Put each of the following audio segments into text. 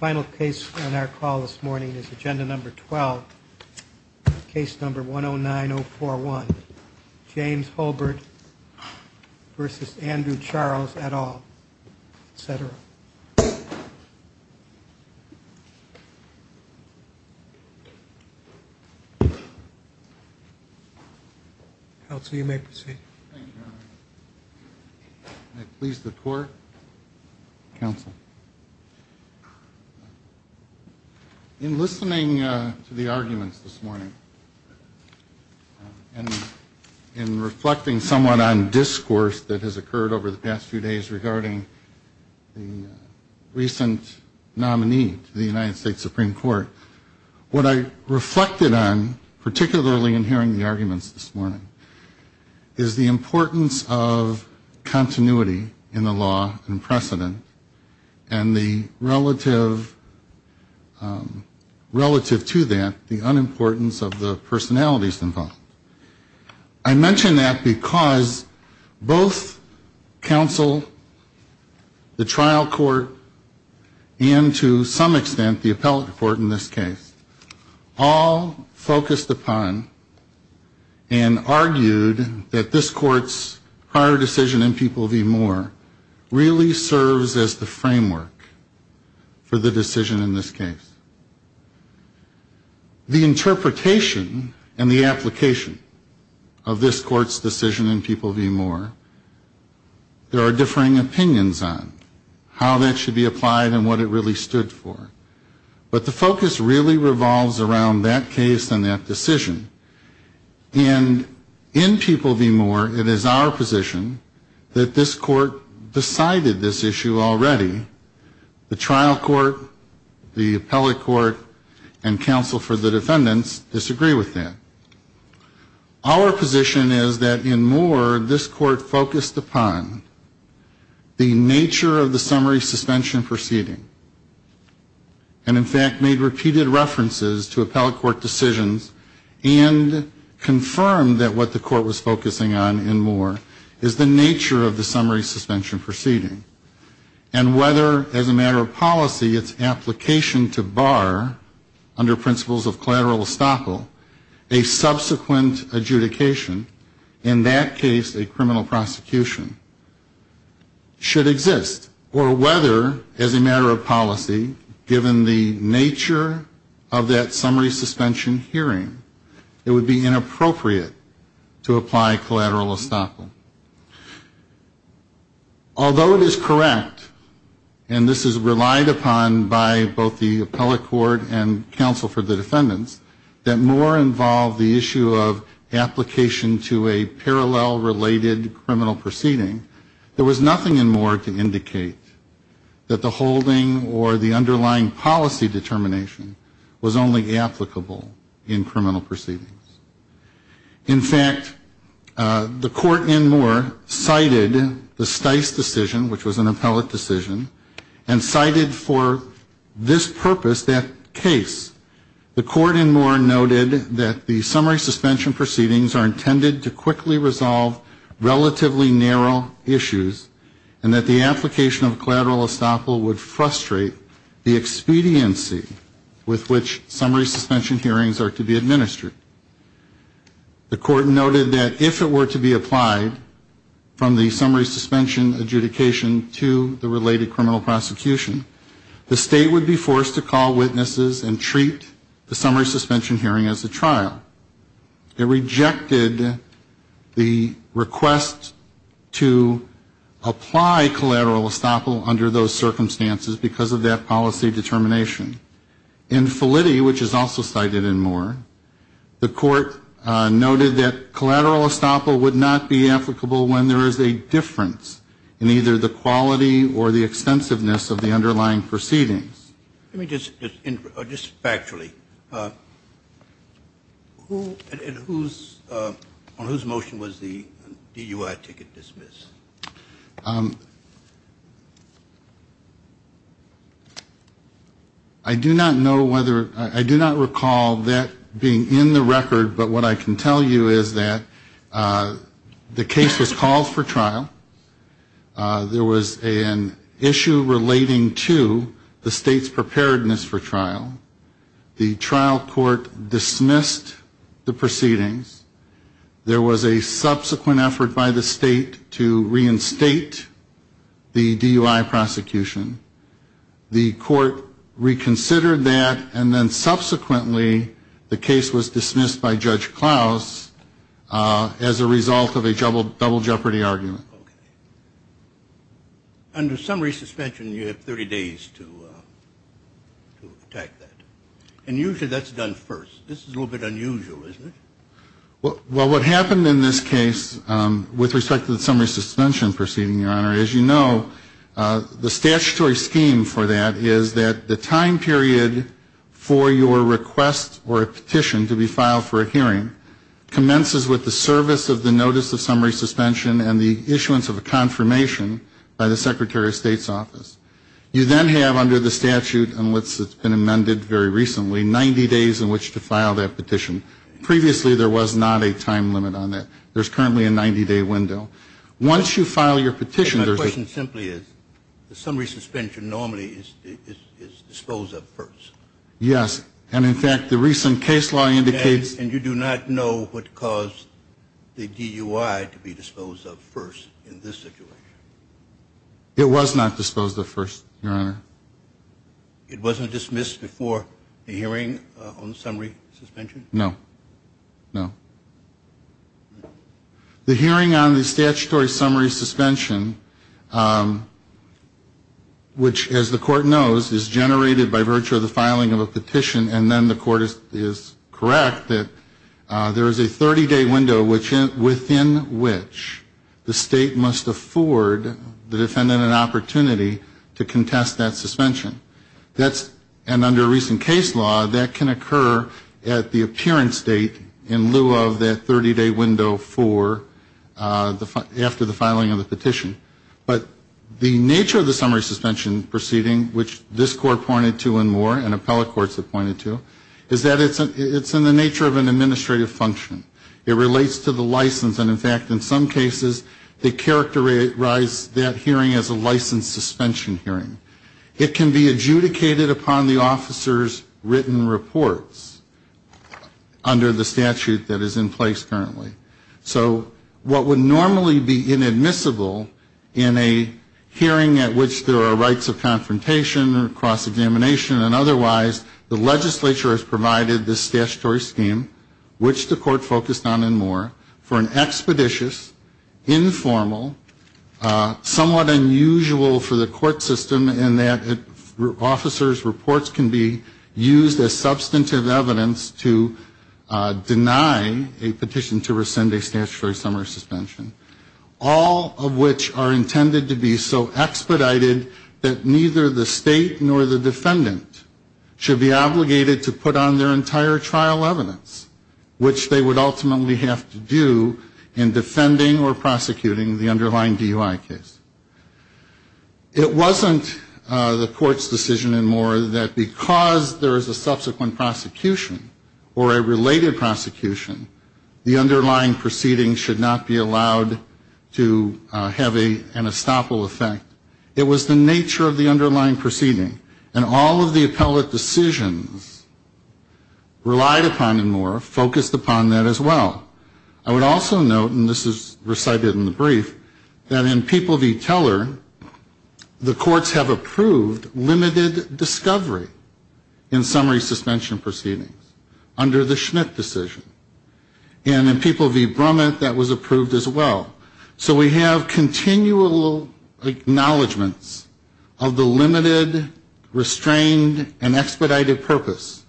Final case on our call this morning is agenda number 12, case number 109041, James Hulbert v. Andrew Charles, et al., etc. In listening to the arguments this morning, and in reflecting somewhat on discourse that the recent nominee to the United States Supreme Court, what I reflected on, particularly in hearing the arguments this morning, is the importance of continuity in the law and precedent, and the relative, relative to that, the unimportance of the personalities involved. I mention that because both counsel, the trial court, and to some extent the appellate court in this case, all focused upon and argued that this court's prior decision in People v. Moore really serves as the framework for the decision in this case. The interpretation and the application of this court's decision in People v. Moore, there are differing opinions on how that should be applied and what it really stood for. But the focus really revolves around that case and that decision. And in People v. Moore, it is our position that this court decided this issue already. The trial court, the appellate court, and counsel for the defendants disagree with that. Our position is that in Moore, this court focused upon the nature of the summary suspension proceeding, and in fact, made repeated references to appellate court decisions and confirmed that what the court was focusing on in Moore is the nature of the summary suspension proceeding. And whether, as a matter of policy, its application to bar, under principles of collateral estoppel, a subsequent adjudication, in that case a criminal prosecution, should exist. Or whether, as a matter of policy, given the nature of that summary suspension hearing, it would be inappropriate to apply collateral estoppel. Although it is correct, and this is relied upon by both the appellate court and counsel for the defendants, that Moore involved the issue of application to a parallel related criminal proceeding, there was nothing in Moore to indicate that the holding or the underlying policy determination was only applicable in criminal proceedings. In fact, the court in Moore cited the Stice decision, which was an appellate decision, and cited for this purpose that case. The court in Moore noted that the summary suspension proceedings are intended to quickly resolve relatively narrow issues, and that the application of collateral estoppel would frustrate the expediency with which summary suspension hearings are to be administered. The court noted that if it were to be applied from the summary suspension adjudication to the related criminal prosecution, the state would be forced to call witnesses and treat the summary suspension hearing as a trial. It rejected the request to apply collateral estoppel under those circumstances because of that policy determination. In Felitti, which is also cited in Moore, the court noted that collateral estoppel would not be applicable when there is a difference in either the quality or the extensiveness of the underlying proceedings. Let me just, just factually, on whose motion was the DUI ticket dismissed? I do not know whether, I do not recall that being in the record, but what I can tell you is that the case was called for trial. There was an issue relating to the state's preparedness for trial. The trial court dismissed the proceedings. There was a subsequent effort by the state to reinstate the DUI prosecution. The court reconsidered that, and then subsequently the case was dismissed by Judge Klaus as a result of a double jeopardy argument. Under summary suspension, you have 30 days to attack that. And usually that's done first. This is a little bit unusual, isn't it? Well, what happened in this case with respect to the summary suspension proceeding, Your Honor, as you know, the statutory scheme for that is that the time period for your request or a petition to be filed for a hearing commences with the service of the notice of summary suspension and the issuance of a confirmation by the Secretary of State's office. You then have, under the statute and what's been amended very recently, 90 days in which to file that petition. Previously there was not a time limit on that. There's currently a 90-day window. Once you file your petition, there's a question. My question simply is, the summary suspension normally is disposed of first. It wasn't dismissed before the hearing on the summary suspension? No. No. The hearing on the statutory summary suspension, which, as the Court knows, is generated by virtue of the filing of a petition, and then the Court is correct that there is a 30-day window within which the State must afford the defendant an opportunity to file a petition. And under recent case law, that can occur at the appearance date in lieu of that 30-day window after the filing of the petition. But the nature of the summary suspension proceeding, which this Court pointed to and more, and appellate courts have pointed to, is that it's in the nature of an administrative function. It relates to the license, and in fact, in some cases, they characterize that hearing as a license suspension hearing. It can be adjudicated upon the officer's written reports under the statute that is in place currently. So what would normally be inadmissible in a hearing at which there are rights of confrontation or cross-examination and otherwise, the legislature has provided this statutory scheme, which the Court focused on and more, for an expeditious, informal, somewhat unusual for the court system to have a hearing. And that officer's reports can be used as substantive evidence to deny a petition to rescind a statutory summary suspension, all of which are intended to be so expedited that neither the State nor the defendant should be obligated to put on their entire trial evidence, which they would ultimately have to do in defending or prosecuting the underlying DUI case. It wasn't the Court's decision and more that because there is a subsequent prosecution or a related prosecution, the underlying proceeding should not be allowed to have an estoppel effect. It was the nature of the underlying proceeding, and all of the appellate decisions relied upon and more focused upon that as well. I would also note, and this is recited in the brief, that in People v. Teller, the courts have approved limited discovery in summary suspension proceedings under the Schmidt decision. And in People v. Brummett, that was approved as well. So we have continual acknowledgments of the limited, restrained, and expedited purpose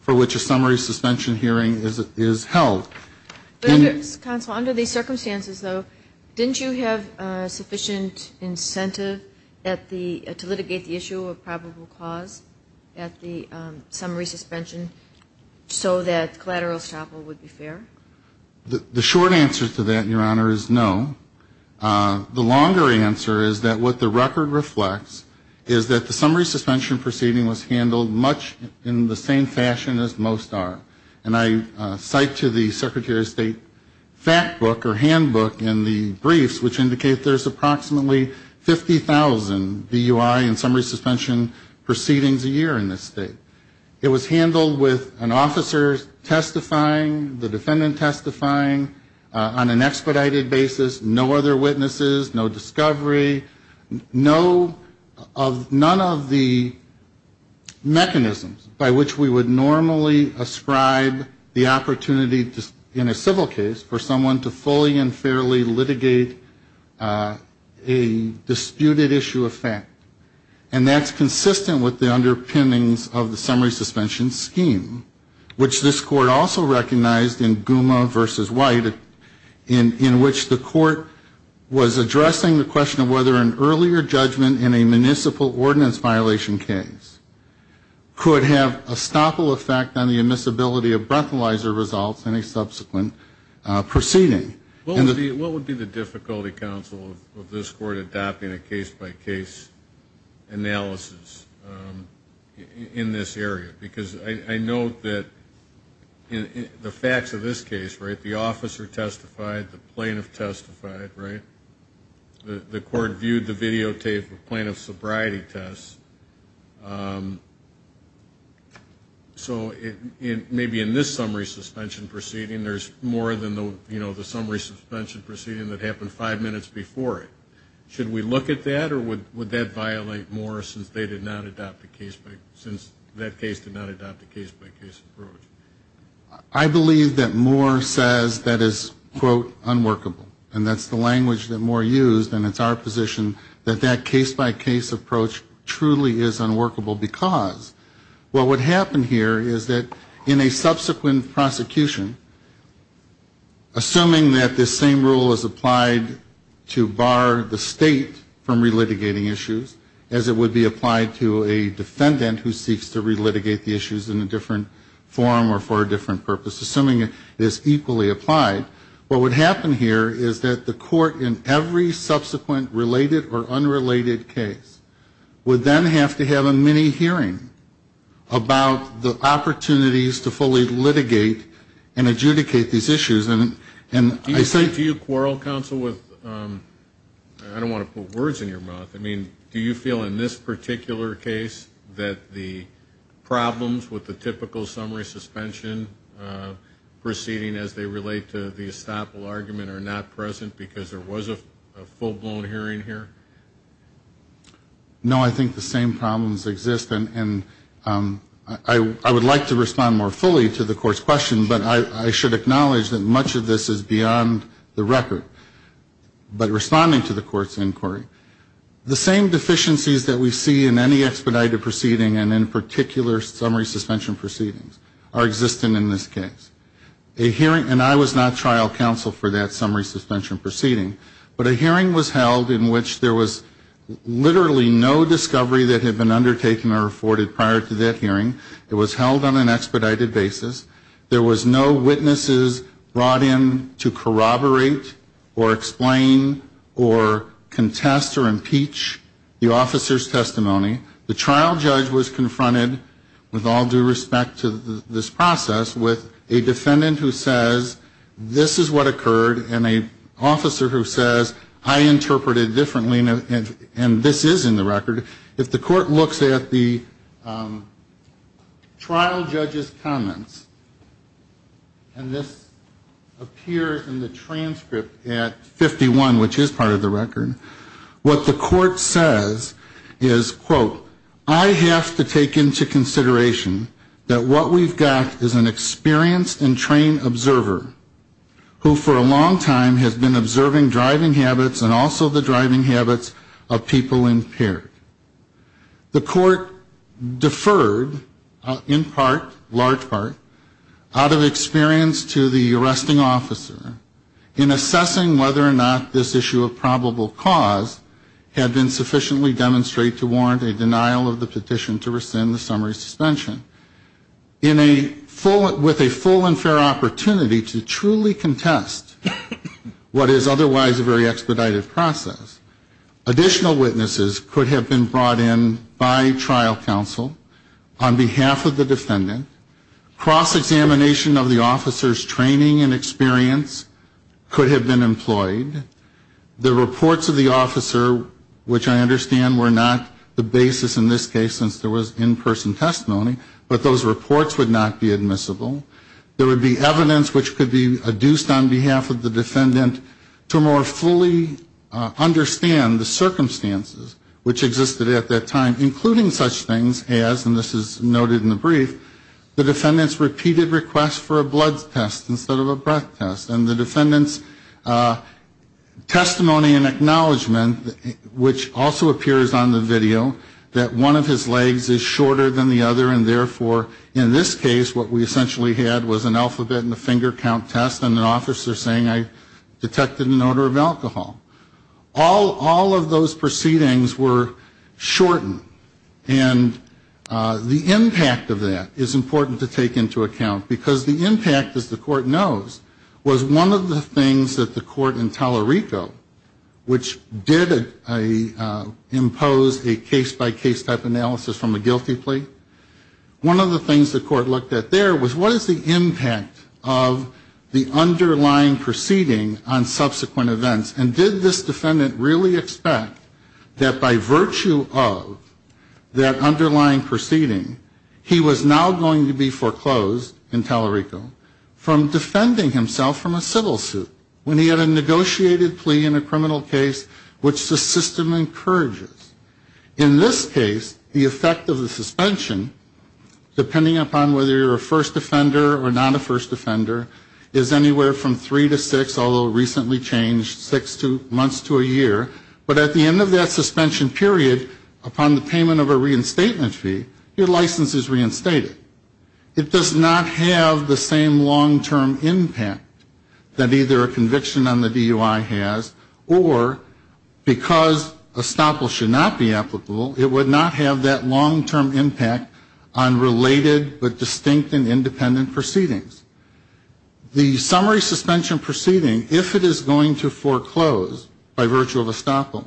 for which a summary suspension hearing is held. But, counsel, under these circumstances, though, didn't you have sufficient incentive to litigate the issue of probable cause at the summary suspension so that collateral estoppel would be fair? The short answer to that, Your Honor, is no. The longer answer is that what the record reflects is that the summary suspension proceeding was handled much in the same fashion as most are. And I cite to the Secretary of State fact book or handbook in the briefs, which indicate there's approximately 50,000 DUI and summary suspension proceedings a year in this state. It was handled with an officer testifying, the defendant testifying on an expedited basis, no other witnesses, no discovery, none of the mechanisms by which we would normally ascribe the opportunity in a civil case for someone to fully and fairly litigate a disputed issue of fact. And that's consistent with the underpinnings of the summary suspension scheme, which this court also recognized in Gouma v. White, in which the court was addressing the question of whether an earlier judgment in a municipal ordinance violation case could have a stoppel effect on the admissibility of breathalyzer results in a subsequent proceeding. What would be the difficulty, counsel, of this court adopting a case-by-case analysis in this area? Because I note that the facts of this case, right, the officer testified, the plaintiff testified, right? The court viewed the videotape of plaintiff's sobriety test. So maybe in this summary suspension proceeding, there's more than the, you know, the summary suspension proceeding that happened five minutes before it. Should we look at that, or would that violate Moore since they did not adopt a case-by-case approach? I believe that Moore says that is, quote, unworkable. And that's the language that Moore used, and it's our position that that case-by-case approach truly is unworkable, because what would happen here is that in a subsequent prosecution, assuming that this same rule is applied to bar the state from re-litigating issues, as it would be applied to a defendant who seeks to re-litigate the issues in a different form or for a different purpose, assuming it is equally applied, what would happen here is that the court in every subsequent related or unrelated case would then have a case-by-case analysis and then have to have a mini-hearing about the opportunities to fully litigate and adjudicate these issues. And I think... Do you quarrel, counsel, with, I don't want to put words in your mouth, I mean, do you feel in this particular case that the problems with the typical summary suspension proceeding as they relate to the estoppel argument are not present because there was a full-blown hearing here? No, I think the same problems exist, and I would like to respond more fully to the Court's question, but I should acknowledge that much of this is beyond the record. But responding to the Court's inquiry, the same deficiencies that we see in any expedited proceeding and in particular summary suspension proceedings are existent in this case. A hearing, and I was not trial counsel for that summary suspension proceeding, but a hearing was held in which there was literally no discovery that had been undertaken or afforded prior to that hearing. It was held on an expedited basis. There was no witnesses brought in to corroborate or explain or contest or impeach the officer's testimony. The trial judge was confronted, with all due respect to this process, with a defendant who says, this is what occurred, and an officer who says, I interpreted differently, and this is in the record. If the Court looks at the trial judge's comments, and this appears in the transcript at 51, which is part of the record, what the Court says is, quote, I have to take into consideration that what we've got is an experienced and trained observer who for a long time has been observing driving habits and also the driving habits of people impaired. The Court deferred in part, large part, out of experience to the arresting officer in assessing whether or not this issue of probable cause had been sufficiently demonstrated to warrant a denial of the petition to rescind the summary suspension. In a full, with a full and in the record, what is otherwise a very expedited process. Additional witnesses could have been brought in by trial counsel on behalf of the defendant. Cross-examination of the officer's training and experience could have been employed. The reports of the officer, which I understand were not the basis in this case, since there was in-person testimony, but those reports would not be admissible. There would be evidence which could be adduced on behalf of the defendant to more fully understand the circumstances which existed at that time, including such things as, and this is noted in the brief, the defendant's repeated request for a blood test instead of a breath test. And the defendant's testimony and acknowledgement, which also appears on the video, that one of his legs is shorter than the other, and therefore in this case what we essentially had was an alphabet and a finger count test and an officer saying I detected an odor of alcohol. All of those proceedings were shortened. And the impact of that is important to take into account, because the impact, as the court knows, was one of the things that the court in Tolerico, which did impose a case-by-case type analysis from a guilty plea, was one of the things the court looked at there was what is the impact of the underlying proceeding on subsequent events, and did this defendant really expect that by virtue of that underlying proceeding, he was now going to be foreclosed in Tolerico from defending himself from a civil suit when he had a negotiated plea in a criminal case which the system encourages. In this case, the effect of the suspension, depending upon whether you're a first offender or not a first offender, is anywhere from three to six, although recently changed, six months to a year. But at the end of that suspension period, upon the payment of a reinstatement fee, your license is reinstated. It does not have the same long-term impact that either a conviction on the DUI has, or because a stop will should not be applicable, it would not have that long-term impact on related but distinct and independent proceedings. The summary suspension proceeding, if it is going to foreclose by virtue of estoppel,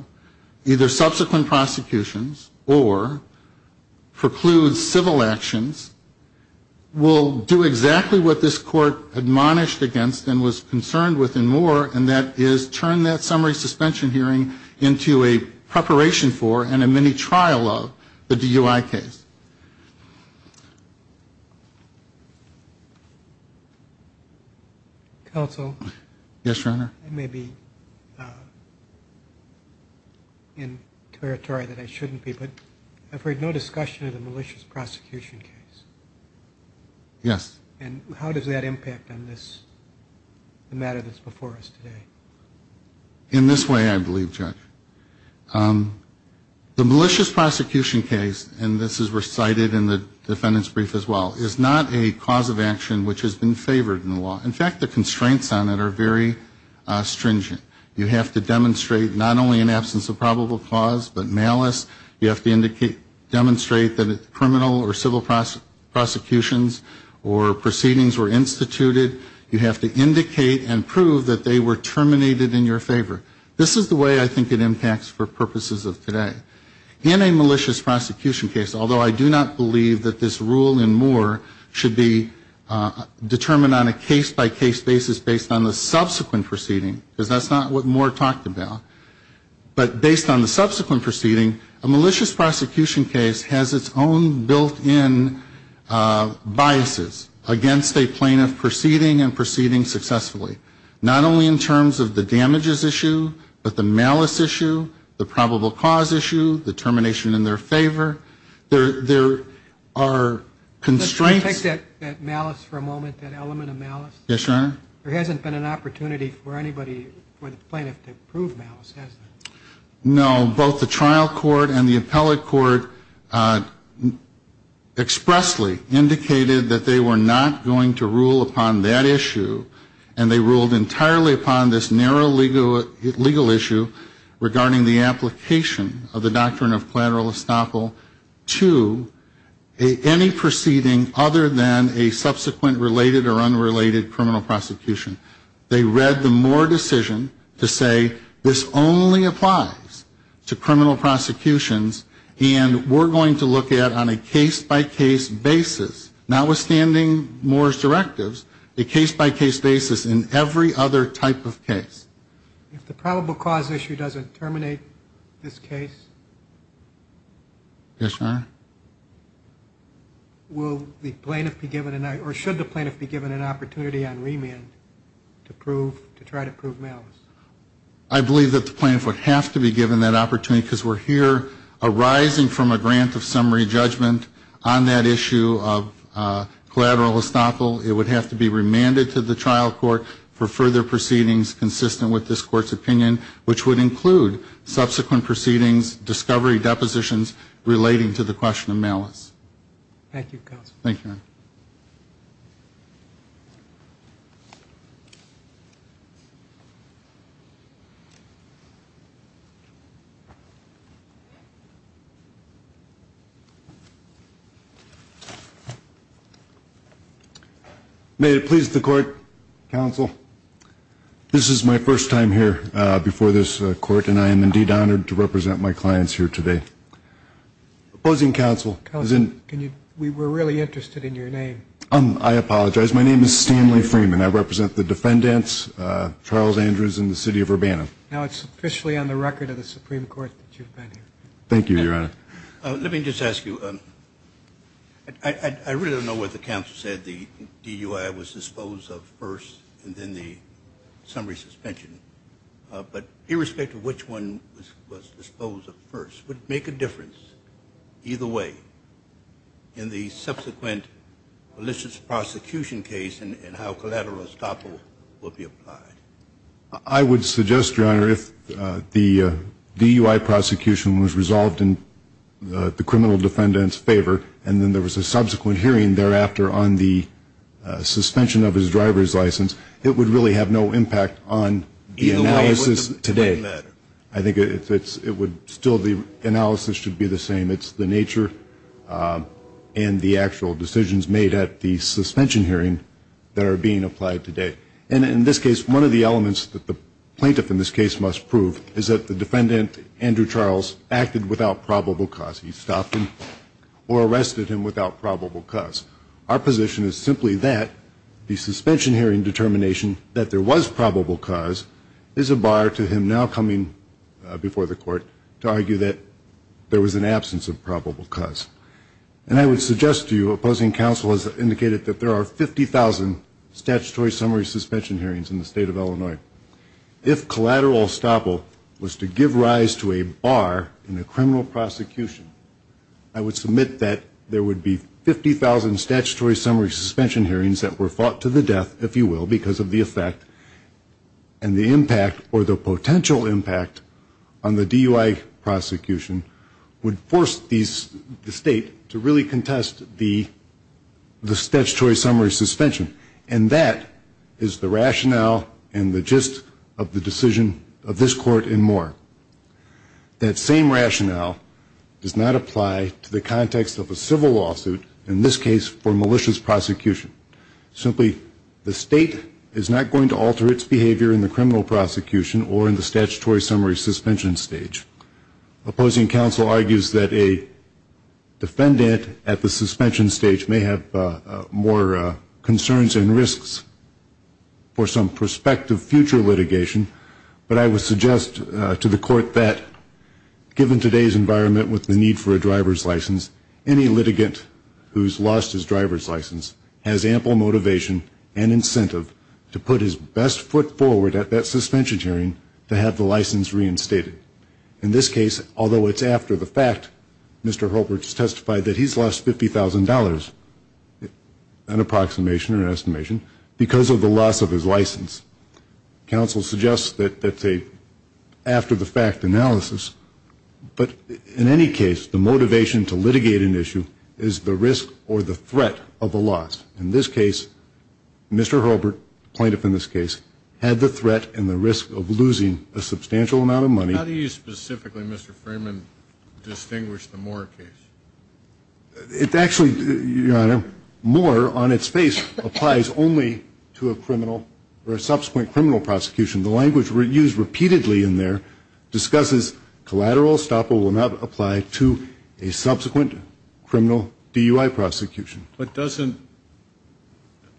either subsequent prosecutions or precludes civil actions, will do exactly what this court admonished against and was concerned with and more, and that is turn that summary suspension proceeding into a preclusion for, and a mini-trial of, the DUI case. Yes, Your Honor. I may be in territory that I shouldn't be, but I've heard no discussion of the malicious prosecution case. Yes. And how does that impact on this matter that's before us today? In this way, I believe, Judge. The malicious prosecution case, and this is recited in the defendant's brief as well, is not a cause of action which has been favored in the law. In fact, the constraints on it are very stringent. You have to demonstrate not only an absence of probable cause, but malice. You have to demonstrate that criminal or civil prosecutions or probable proceedings were instituted. You have to indicate and prove that they were terminated in your favor. This is the way I think it impacts for purposes of today. In a malicious prosecution case, although I do not believe that this rule and more should be determined on a case-by-case basis based on the subsequent proceeding, because that's not what Moore talked about, but based on the subsequent proceeding, a malicious prosecution case has its own built-in biases. Again, it has its own biases. And I think it would be good to have a trial court that could make a decision against a plaintiff proceeding and proceeding successfully, not only in terms of the damages issue, but the malice issue, the probable cause issue, the termination in their favor. There are constraints Let's go back to that malice for a moment, that element of malice. Yes, Your Honor. There hasn't been an opportunity for anybody, for the plaintiff to prove malice, has there? No. Both the trial court and the appellate court expressly indicated that they were not going to rule upon that issue, and they ruled entirely upon this narrow legal issue regarding the application of the doctrine of collateral estoppel to any proceeding other than a subsequent related or unrelated criminal prosecution. They read the Moore decision to say this only applies to criminal prosecutions, and we're going to look at, on a case-by-case basis, notwithstanding Moore's directives, a case-by-case basis in every other type of case. If the probable cause issue doesn't terminate this case? Yes, Your Honor. Will the plaintiff be given, or should the plaintiff be given an opportunity on remand to prove, to try to prove malice? I believe that the plaintiff would have to be given that opportunity, because we're here arising from a grant of summary judgment on that issue of collateral estoppel. It would have to be remanded to the trial court for further proceedings consistent with this Court's opinion, which would include subsequent proceedings, discovery depositions relating to the question of malice. Thank you, Your Honor. May it please the Court, Counsel, this is my first time here before this Court, and I am indeed honored to represent my clients here today. Opposing counsel? Counsel, we were really interested in your name. I apologize. My name is Stanley Freeman. I represent the defendants, Charles Andrews and the City of Urbana. Now it's officially on the record of the Supreme Court that you've been here. Thank you, Your Honor. Let me just ask you, I really don't know what the counsel said, the DUI was disposed of first, and then the summary suspension. But irrespective of which one was disposed of first, would it make a difference, either way, in the subsequent malicious prosecution case and how collateral estoppel will be applied? I would suggest, Your Honor, if the DUI prosecution was resolved in the criminal defendant's favor, and then there was a subsequent hearing thereafter on the suspension of his driver's license, it would really have no impact on the analysis today. I think it would still be, the analysis should be the same. It's the nature and the actual decisions made at the suspension hearing that are being applied today. And in this case, one of the elements that the plaintiff in this case must prove is that the defendant, Andrew Charles, acted without probable cause. He stopped him or arrested him without probable cause. Our position is simply that the suspension hearing determination that there was probable cause is a bar to him now coming before the court to argue that there was an absence of probable cause. And I would suggest to you, opposing counsel has indicated that there are 50,000 statutory summary suspensions in this case. And I would suggest to you that there are 50,000 statutory summary suspension hearings in the state of Illinois. If collateral estoppel was to give rise to a bar in a criminal prosecution, I would submit that there would be 50,000 statutory summary suspension hearings that were fought to the death, if you will, because of the effect and the impact or the potential impact on the DUI prosecution would force the state to really contest the statutory summary suspension. And that is the rationale and the gist of the decision of this court and more. That same rationale does not apply to the context of a civil lawsuit, in this case, for malicious prosecution. Simply, the state is not going to alter its behavior in the criminal prosecution or in the statutory summary suspension stage. Opposing counsel argues that a defendant at the suspension stage may have more concern than the defendant. There are concerns and risks for some prospective future litigation, but I would suggest to the court that given today's environment with the need for a driver's license, any litigant who has lost his driver's license has ample motivation and incentive to put his best foot forward at that suspension hearing to have the license reinstated. In this case, although it's after the fact, Mr. Holbrook has testified that he has lost $50,000, an approximation or an estimation, because of the loss of his license. Counsel suggests that that's a after-the-fact analysis, but in any case, the motivation to litigate an issue is the risk or the threat of a loss. In this case, Mr. Holbrook, plaintiff in this case, had the threat and the risk of losing a substantial amount of money. How do you specifically, Mr. Freeman, distinguish the Moore case? It's actually, Your Honor, Moore on its face applies only to a criminal or a subsequent criminal prosecution. The language used repeatedly in there discusses collateral, estoppel will not apply to a subsequent criminal DUI prosecution. But doesn't,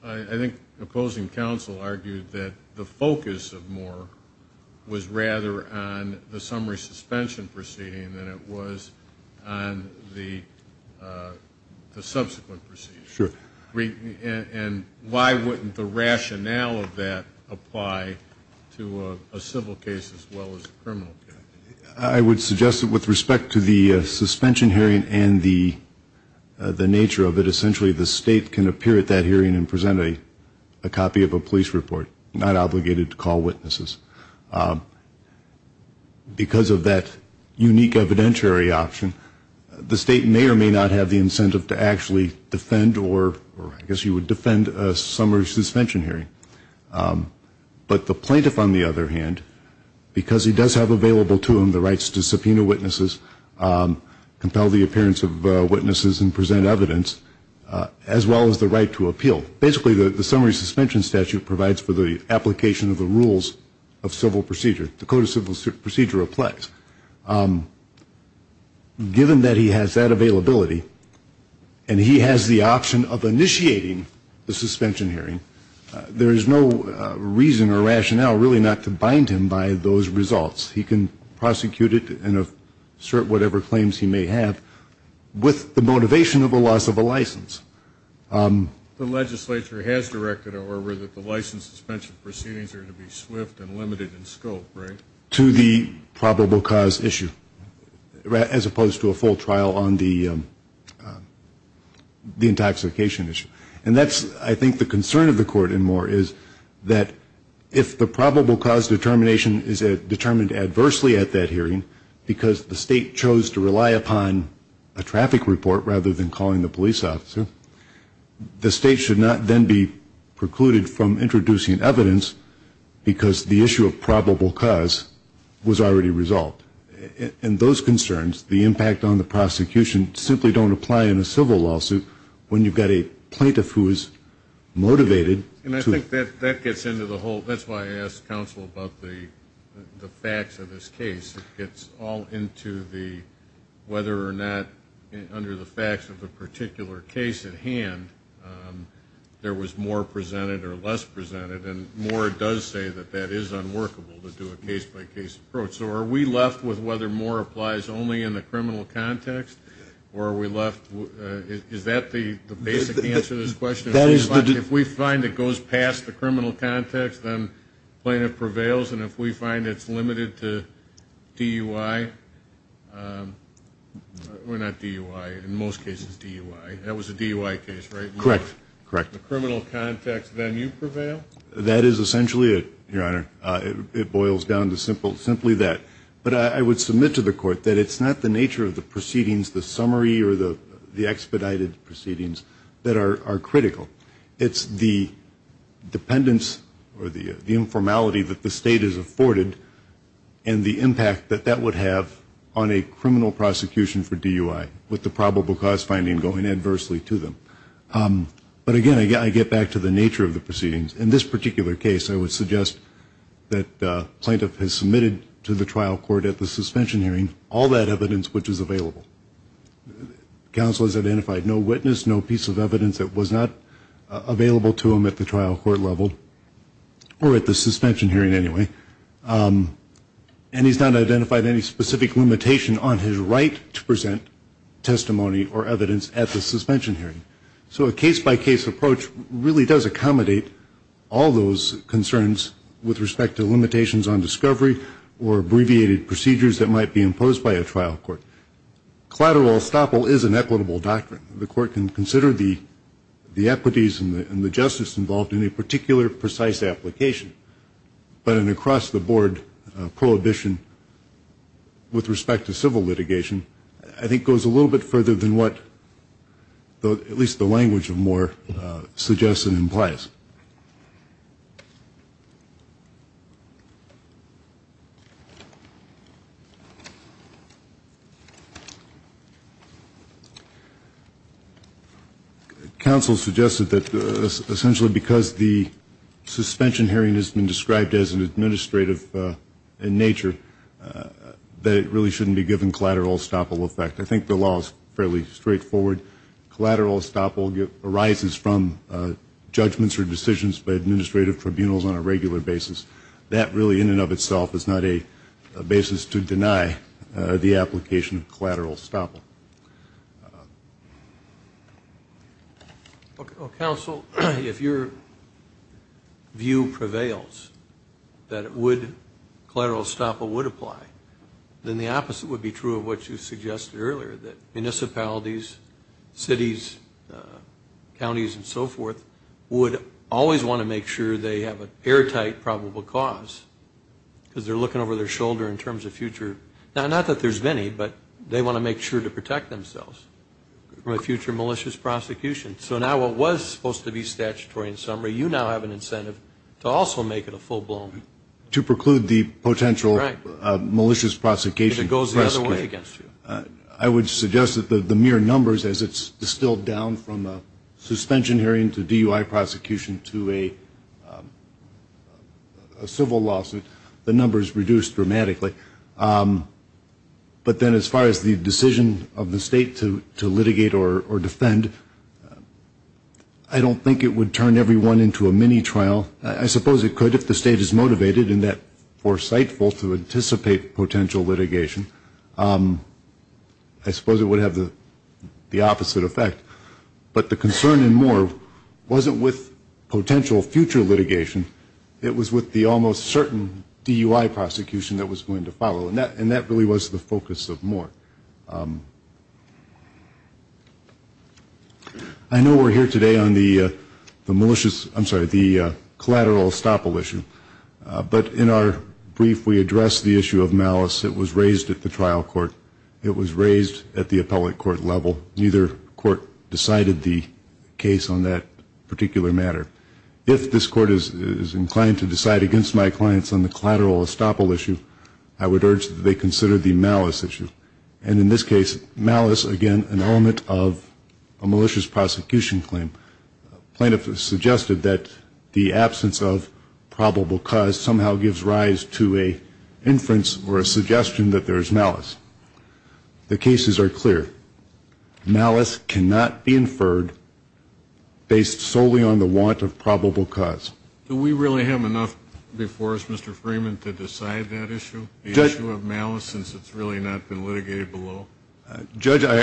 I think opposing counsel argued that the focus of Moore was rather on the summary suspension proceeding than it was on the subsequent proceeding? And why wouldn't the rationale of that apply to a civil case as well as a criminal case? I would suggest that with respect to the suspension hearing and the nature of it, essentially the state can appear at that hearing and present a copy of a police report, not obligated to call witnesses. Because of that unique evidentiary option, the state may or may not have the incentive to actually defend or I guess you would defend a summary suspension hearing. But the plaintiff, on the other hand, because he does have available to him the rights to subpoena witnesses, compel the appearance of witnesses and present evidence, as well as the right to appeal. Basically, the summary suspension statute provides for the application of the rules of civil procedure. The Code of Civil Procedure applies. Given that he has that availability, and he has the option of initiating the suspension hearing, there is no reason or rationale really not to bind him by those results. He can prosecute it and assert whatever claims he may have with the motivation of the loss of a license. The legislature has directed or that the license suspension proceedings are to be swift and limited in scope, right? To the probable cause issue, as opposed to a full trial on the intoxication issue. And that's I think the concern of the court and more is that if the probable cause determination is determined adversely at that hearing, because the state chose to rely upon a traffic report rather than calling the police officer, the state should not then be precluded from introducing evidence because the issue of probable cause was already resolved. And those concerns, the impact on the prosecution, simply don't apply in a civil lawsuit when you've got a plaintiff who is motivated to... And I think that gets into the whole, that's why I asked counsel about the facts of this case. It gets all into the whether or not, under the facts of the particular case at hand, there was more presented or less presented and Moore does say that that is unworkable to do a case-by-case approach. So are we left with whether Moore applies only in the criminal context or are we left... Is that the basic answer to this question? If we find it goes past the criminal context, then plaintiff prevails. And if we find it's limited to DUI, or not DUI, in most cases DUI, that was a DUI case, right? Correct. Correct. The criminal context, then you prevail? That is essentially it, Your Honor. It boils down to simply that. But I would submit to the court that it's not the nature of the proceedings, the summary or the expedited proceedings that are critical. It's the dependence or the informality that the state has afforded and the impact that that would have on a criminal prosecution for DUI, with the probable cause finding going adversely to them. But again, I get back to the nature of the proceedings. In this particular case, I would suggest that the plaintiff has submitted to the trial court at the suspension hearing all that evidence which is available. Counsel has identified no witness, no piece of evidence that was not available to him at the trial court level, or at the suspension hearing anyway. And he's not identified any specific limitation on his right to present testimony or evidence at the suspension hearing. So a case-by-case approach really does accommodate all those concerns with respect to limitations on discovery or abbreviated procedures that might be imposed by a trial court. Collateral estoppel is an equitable doctrine. The court can consider the equities and the justice involved in a particular precise application. But an across-the-board prohibition with respect to civil litigation, I think, goes a little bit further than what at least the language of Moore suggests and implies. Counsel suggested that essentially because the suspension hearing has been described as an administrative in nature, that it really shouldn't be given collateral estoppel effect. I think the law is fairly straightforward. Collateral estoppel arises from judgments or decisions by administrative tribunals on a regular basis. And the law itself is not a basis to deny the application of collateral estoppel. Counsel, if your view prevails that collateral estoppel would apply, then the opposite would be true of what you suggested earlier, that municipalities, cities, counties, and so forth, would always want to make sure they have an airtight probable cause. Because they're looking over their shoulder in terms of future, not that there's many, but they want to make sure to protect themselves from a future malicious prosecution. So now what was supposed to be statutory in summary, you now have an incentive to also make it a full-blown. To preclude the potential malicious prosecution. I would suggest that the mere numbers, as it's distilled down from a suspension hearing to DUI prosecution to a civil lawsuit, the number of cases, the number is reduced dramatically, but then as far as the decision of the state to litigate or defend, I don't think it would turn everyone into a mini-trial. I suppose it could if the state is motivated and that foresightful to anticipate potential litigation. I suppose it would have the opposite effect. But the concern in Moore wasn't with potential future litigation, it was with the almost certain DUI prosecution that was going to follow. And that really was the focus of Moore. I know we're here today on the collateral estoppel issue, but in our brief we addressed the issue of malice that was raised at the trial court. It was raised at the appellate court level, neither court decided the case on that particular matter. If this court is inclined to decide against my clients on the collateral estoppel issue, I would urge that they consider the malice issue. And in this case, malice, again, an element of a malicious prosecution claim. Plaintiff has suggested that the absence of probable cause somehow gives rise to an inference or a suggestion that there is malice. The cases are clear, malice cannot be inferred based solely on the want of probable cause. Do we really have enough before us, Mr. Freeman, to decide that issue, the issue of malice, since it's really not been litigated below? Judge, or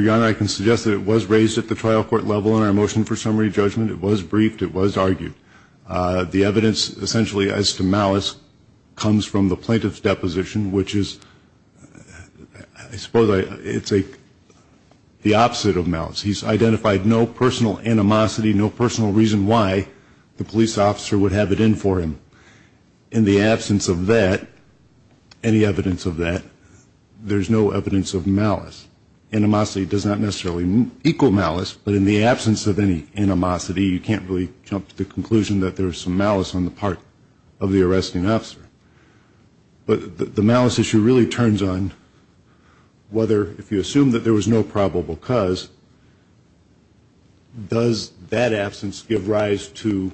Your Honor, I can suggest that it was raised at the trial court level in our motion for summary judgment. It was briefed, it was argued. The evidence essentially as to malice comes from the plaintiff's deposition, which is, I suppose, it's the opposite of malice. He's identified no personal animosity, no personal reason why the police officer would have it in for him. In the absence of that, any evidence of that, there's no evidence of malice. Animosity does not necessarily equal malice, but in the absence of any animosity, you can't really jump to conclusions. There's some malice on the part of the arresting officer. But the malice issue really turns on whether, if you assume that there was no probable cause, does that absence give rise to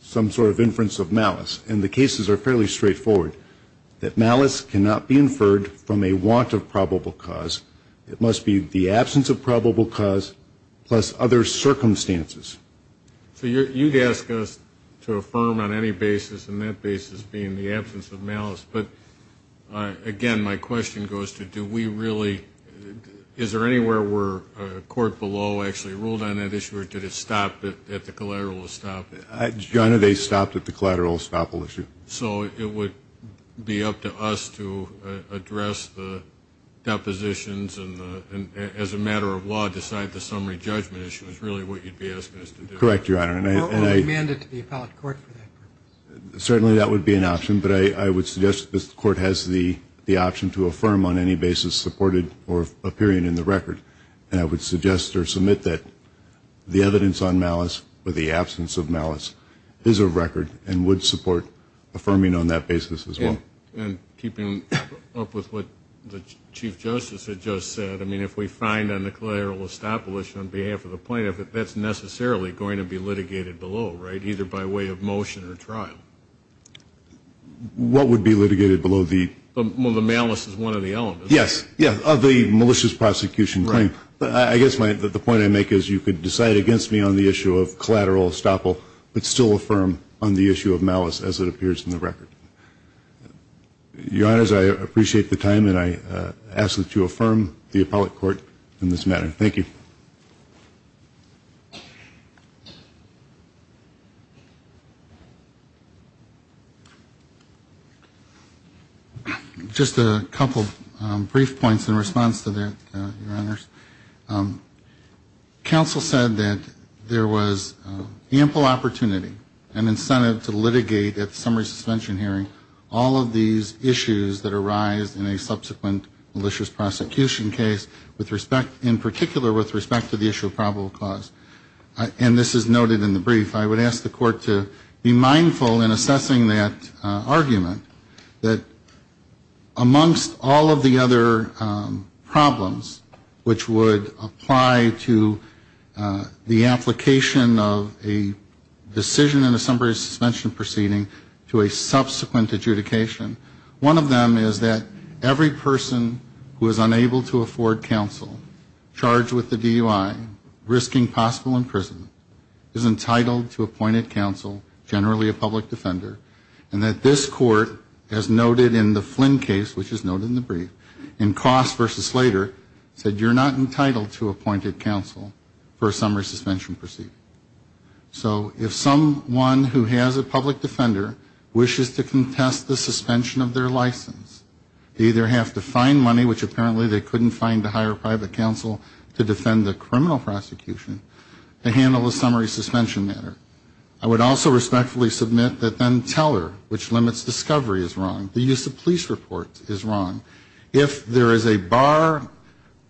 some sort of inference of malice? And the cases are fairly straightforward, that malice cannot be inferred from a want of probable cause. It must be the absence of probable cause plus other circumstances. So you'd ask us to affirm on any basis, and that basis being the absence of malice. But, again, my question goes to, do we really, is there anywhere where a court below actually ruled on that issue, or did it stop at the collateral estoppel? So it would be up to us to address the depositions and, as a matter of law, decide the summary judgment issue is really what you'd be asking. Correct, Your Honor. Certainly that would be an option, but I would suggest that the court has the option to affirm on any basis supported or appearing in the record. And I would suggest or submit that the evidence on malice or the absence of malice is a record and would support affirming on that basis as well. And keeping up with what the Chief Justice had just said, I mean, if we find a collateral estoppel issue on behalf of the plaintiff, that's necessarily going to be litigated below, right, either by way of motion or trial. What would be litigated below the? Well, the malice is one of the elements. Yes, yes, of the malicious prosecution claim. But I guess the point I make is you could decide against me on the issue of collateral estoppel, but still affirm on the issue of malice as it appears in the record. Your Honors, I appreciate the time and I ask that you affirm the appellate court in this matter. Thank you. Just a couple brief points in response to that, Your Honors. Counsel said that there was ample opportunity and incentive to litigate at summary suspension hearing. All of these issues that arise in a subsequent malicious prosecution case, in particular with respect to the issue of probable cause. And this is noted in the brief. I would ask the court to be mindful in assessing that argument that amongst all of the other problems which would apply to the application of a decision in a subsequent adjudication, one of them is that every person who is unable to afford counsel charged with the DUI, risking possible imprisonment, is entitled to appointed counsel, generally a public defender, and that this court, as noted in the Flynn case, which is noted in the brief, in Cross v. Slater, said you're not entitled to appointed counsel for a summary suspension proceeding. So if someone who has a public defender wishes to contest the suspension of their license, they either have to find money, which apparently they couldn't find to hire private counsel to defend the criminal prosecution, to handle the summary suspension matter. I would also respectfully submit that then Teller, which limits discovery, is wrong. The use of police reports is wrong. If there is a bar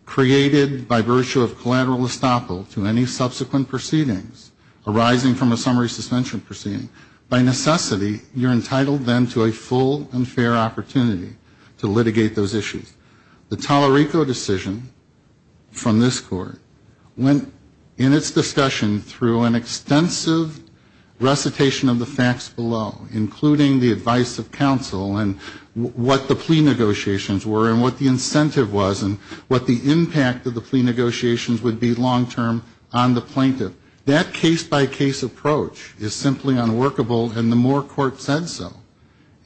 created by virtue of collateral estoppel to any subsequent proceedings arising from a summary suspension proceeding, by necessity you're entitled then to a full and fair opportunity to litigate those issues. The Tallarico decision from this court went in its discussion through an extensive recitation of the facts below, including the advice of counsel and what the plea negotiations were and what the incentive was and what the impact of the plea negotiations would be long-term on the plaintiff. That case-by-case approach is simply unworkable, and the Moore court said so.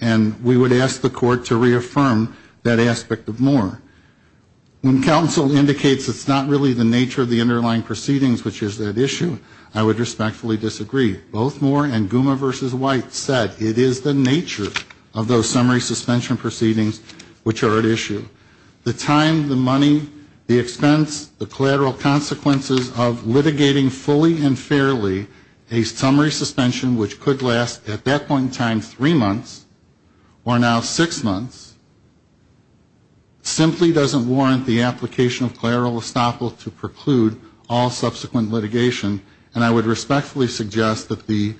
And we would ask the court to reaffirm that aspect of Moore. When counsel indicates it's not really the nature of the underlying proceedings which is at issue, I would respectfully disagree. Both Moore and Guma v. White said it is the nature of those summary suspension proceedings which are at issue. The time, the money, the expense, the collateral consequences of litigating fully and fairly a summary suspension which could last at that point in time three months, or now six months, simply doesn't warrant the application of collateral estoppel to preclude all subsequent proceedings, and I would respectfully suggest that the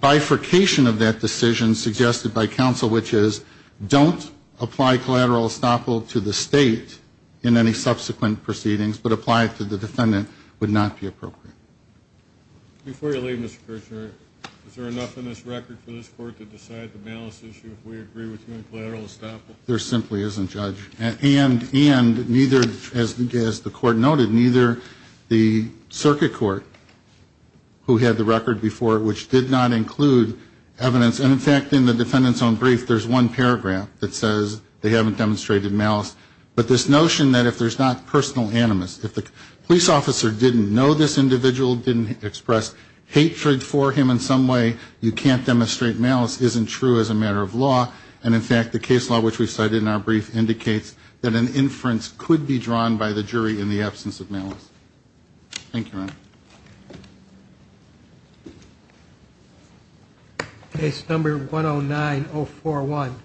bifurcation of that decision suggested by counsel, which is, don't apply collateral estoppel to the state in any subsequent proceedings, but apply it to the defendant, would not be appropriate. Before you leave, Mr. Kirchner, is there enough in this record for this court to decide the malice issue if we agree with you on collateral estoppel? There simply isn't, Judge. And neither, as the court noted, neither the circuit court who had the record before which did not include evidence, and in fact, in the defendant's own brief, there's one paragraph that says they haven't demonstrated malice. But this notion that if there's not personal animus, if the police officer didn't know this individual, didn't express hatred for him in some way, you can't demonstrate malice isn't true as a matter of law. And in fact, the case law which we cited in our brief indicates that an inference could be drawn by the jury in the absence of malice. Thank you, Your Honor. Case number 109041.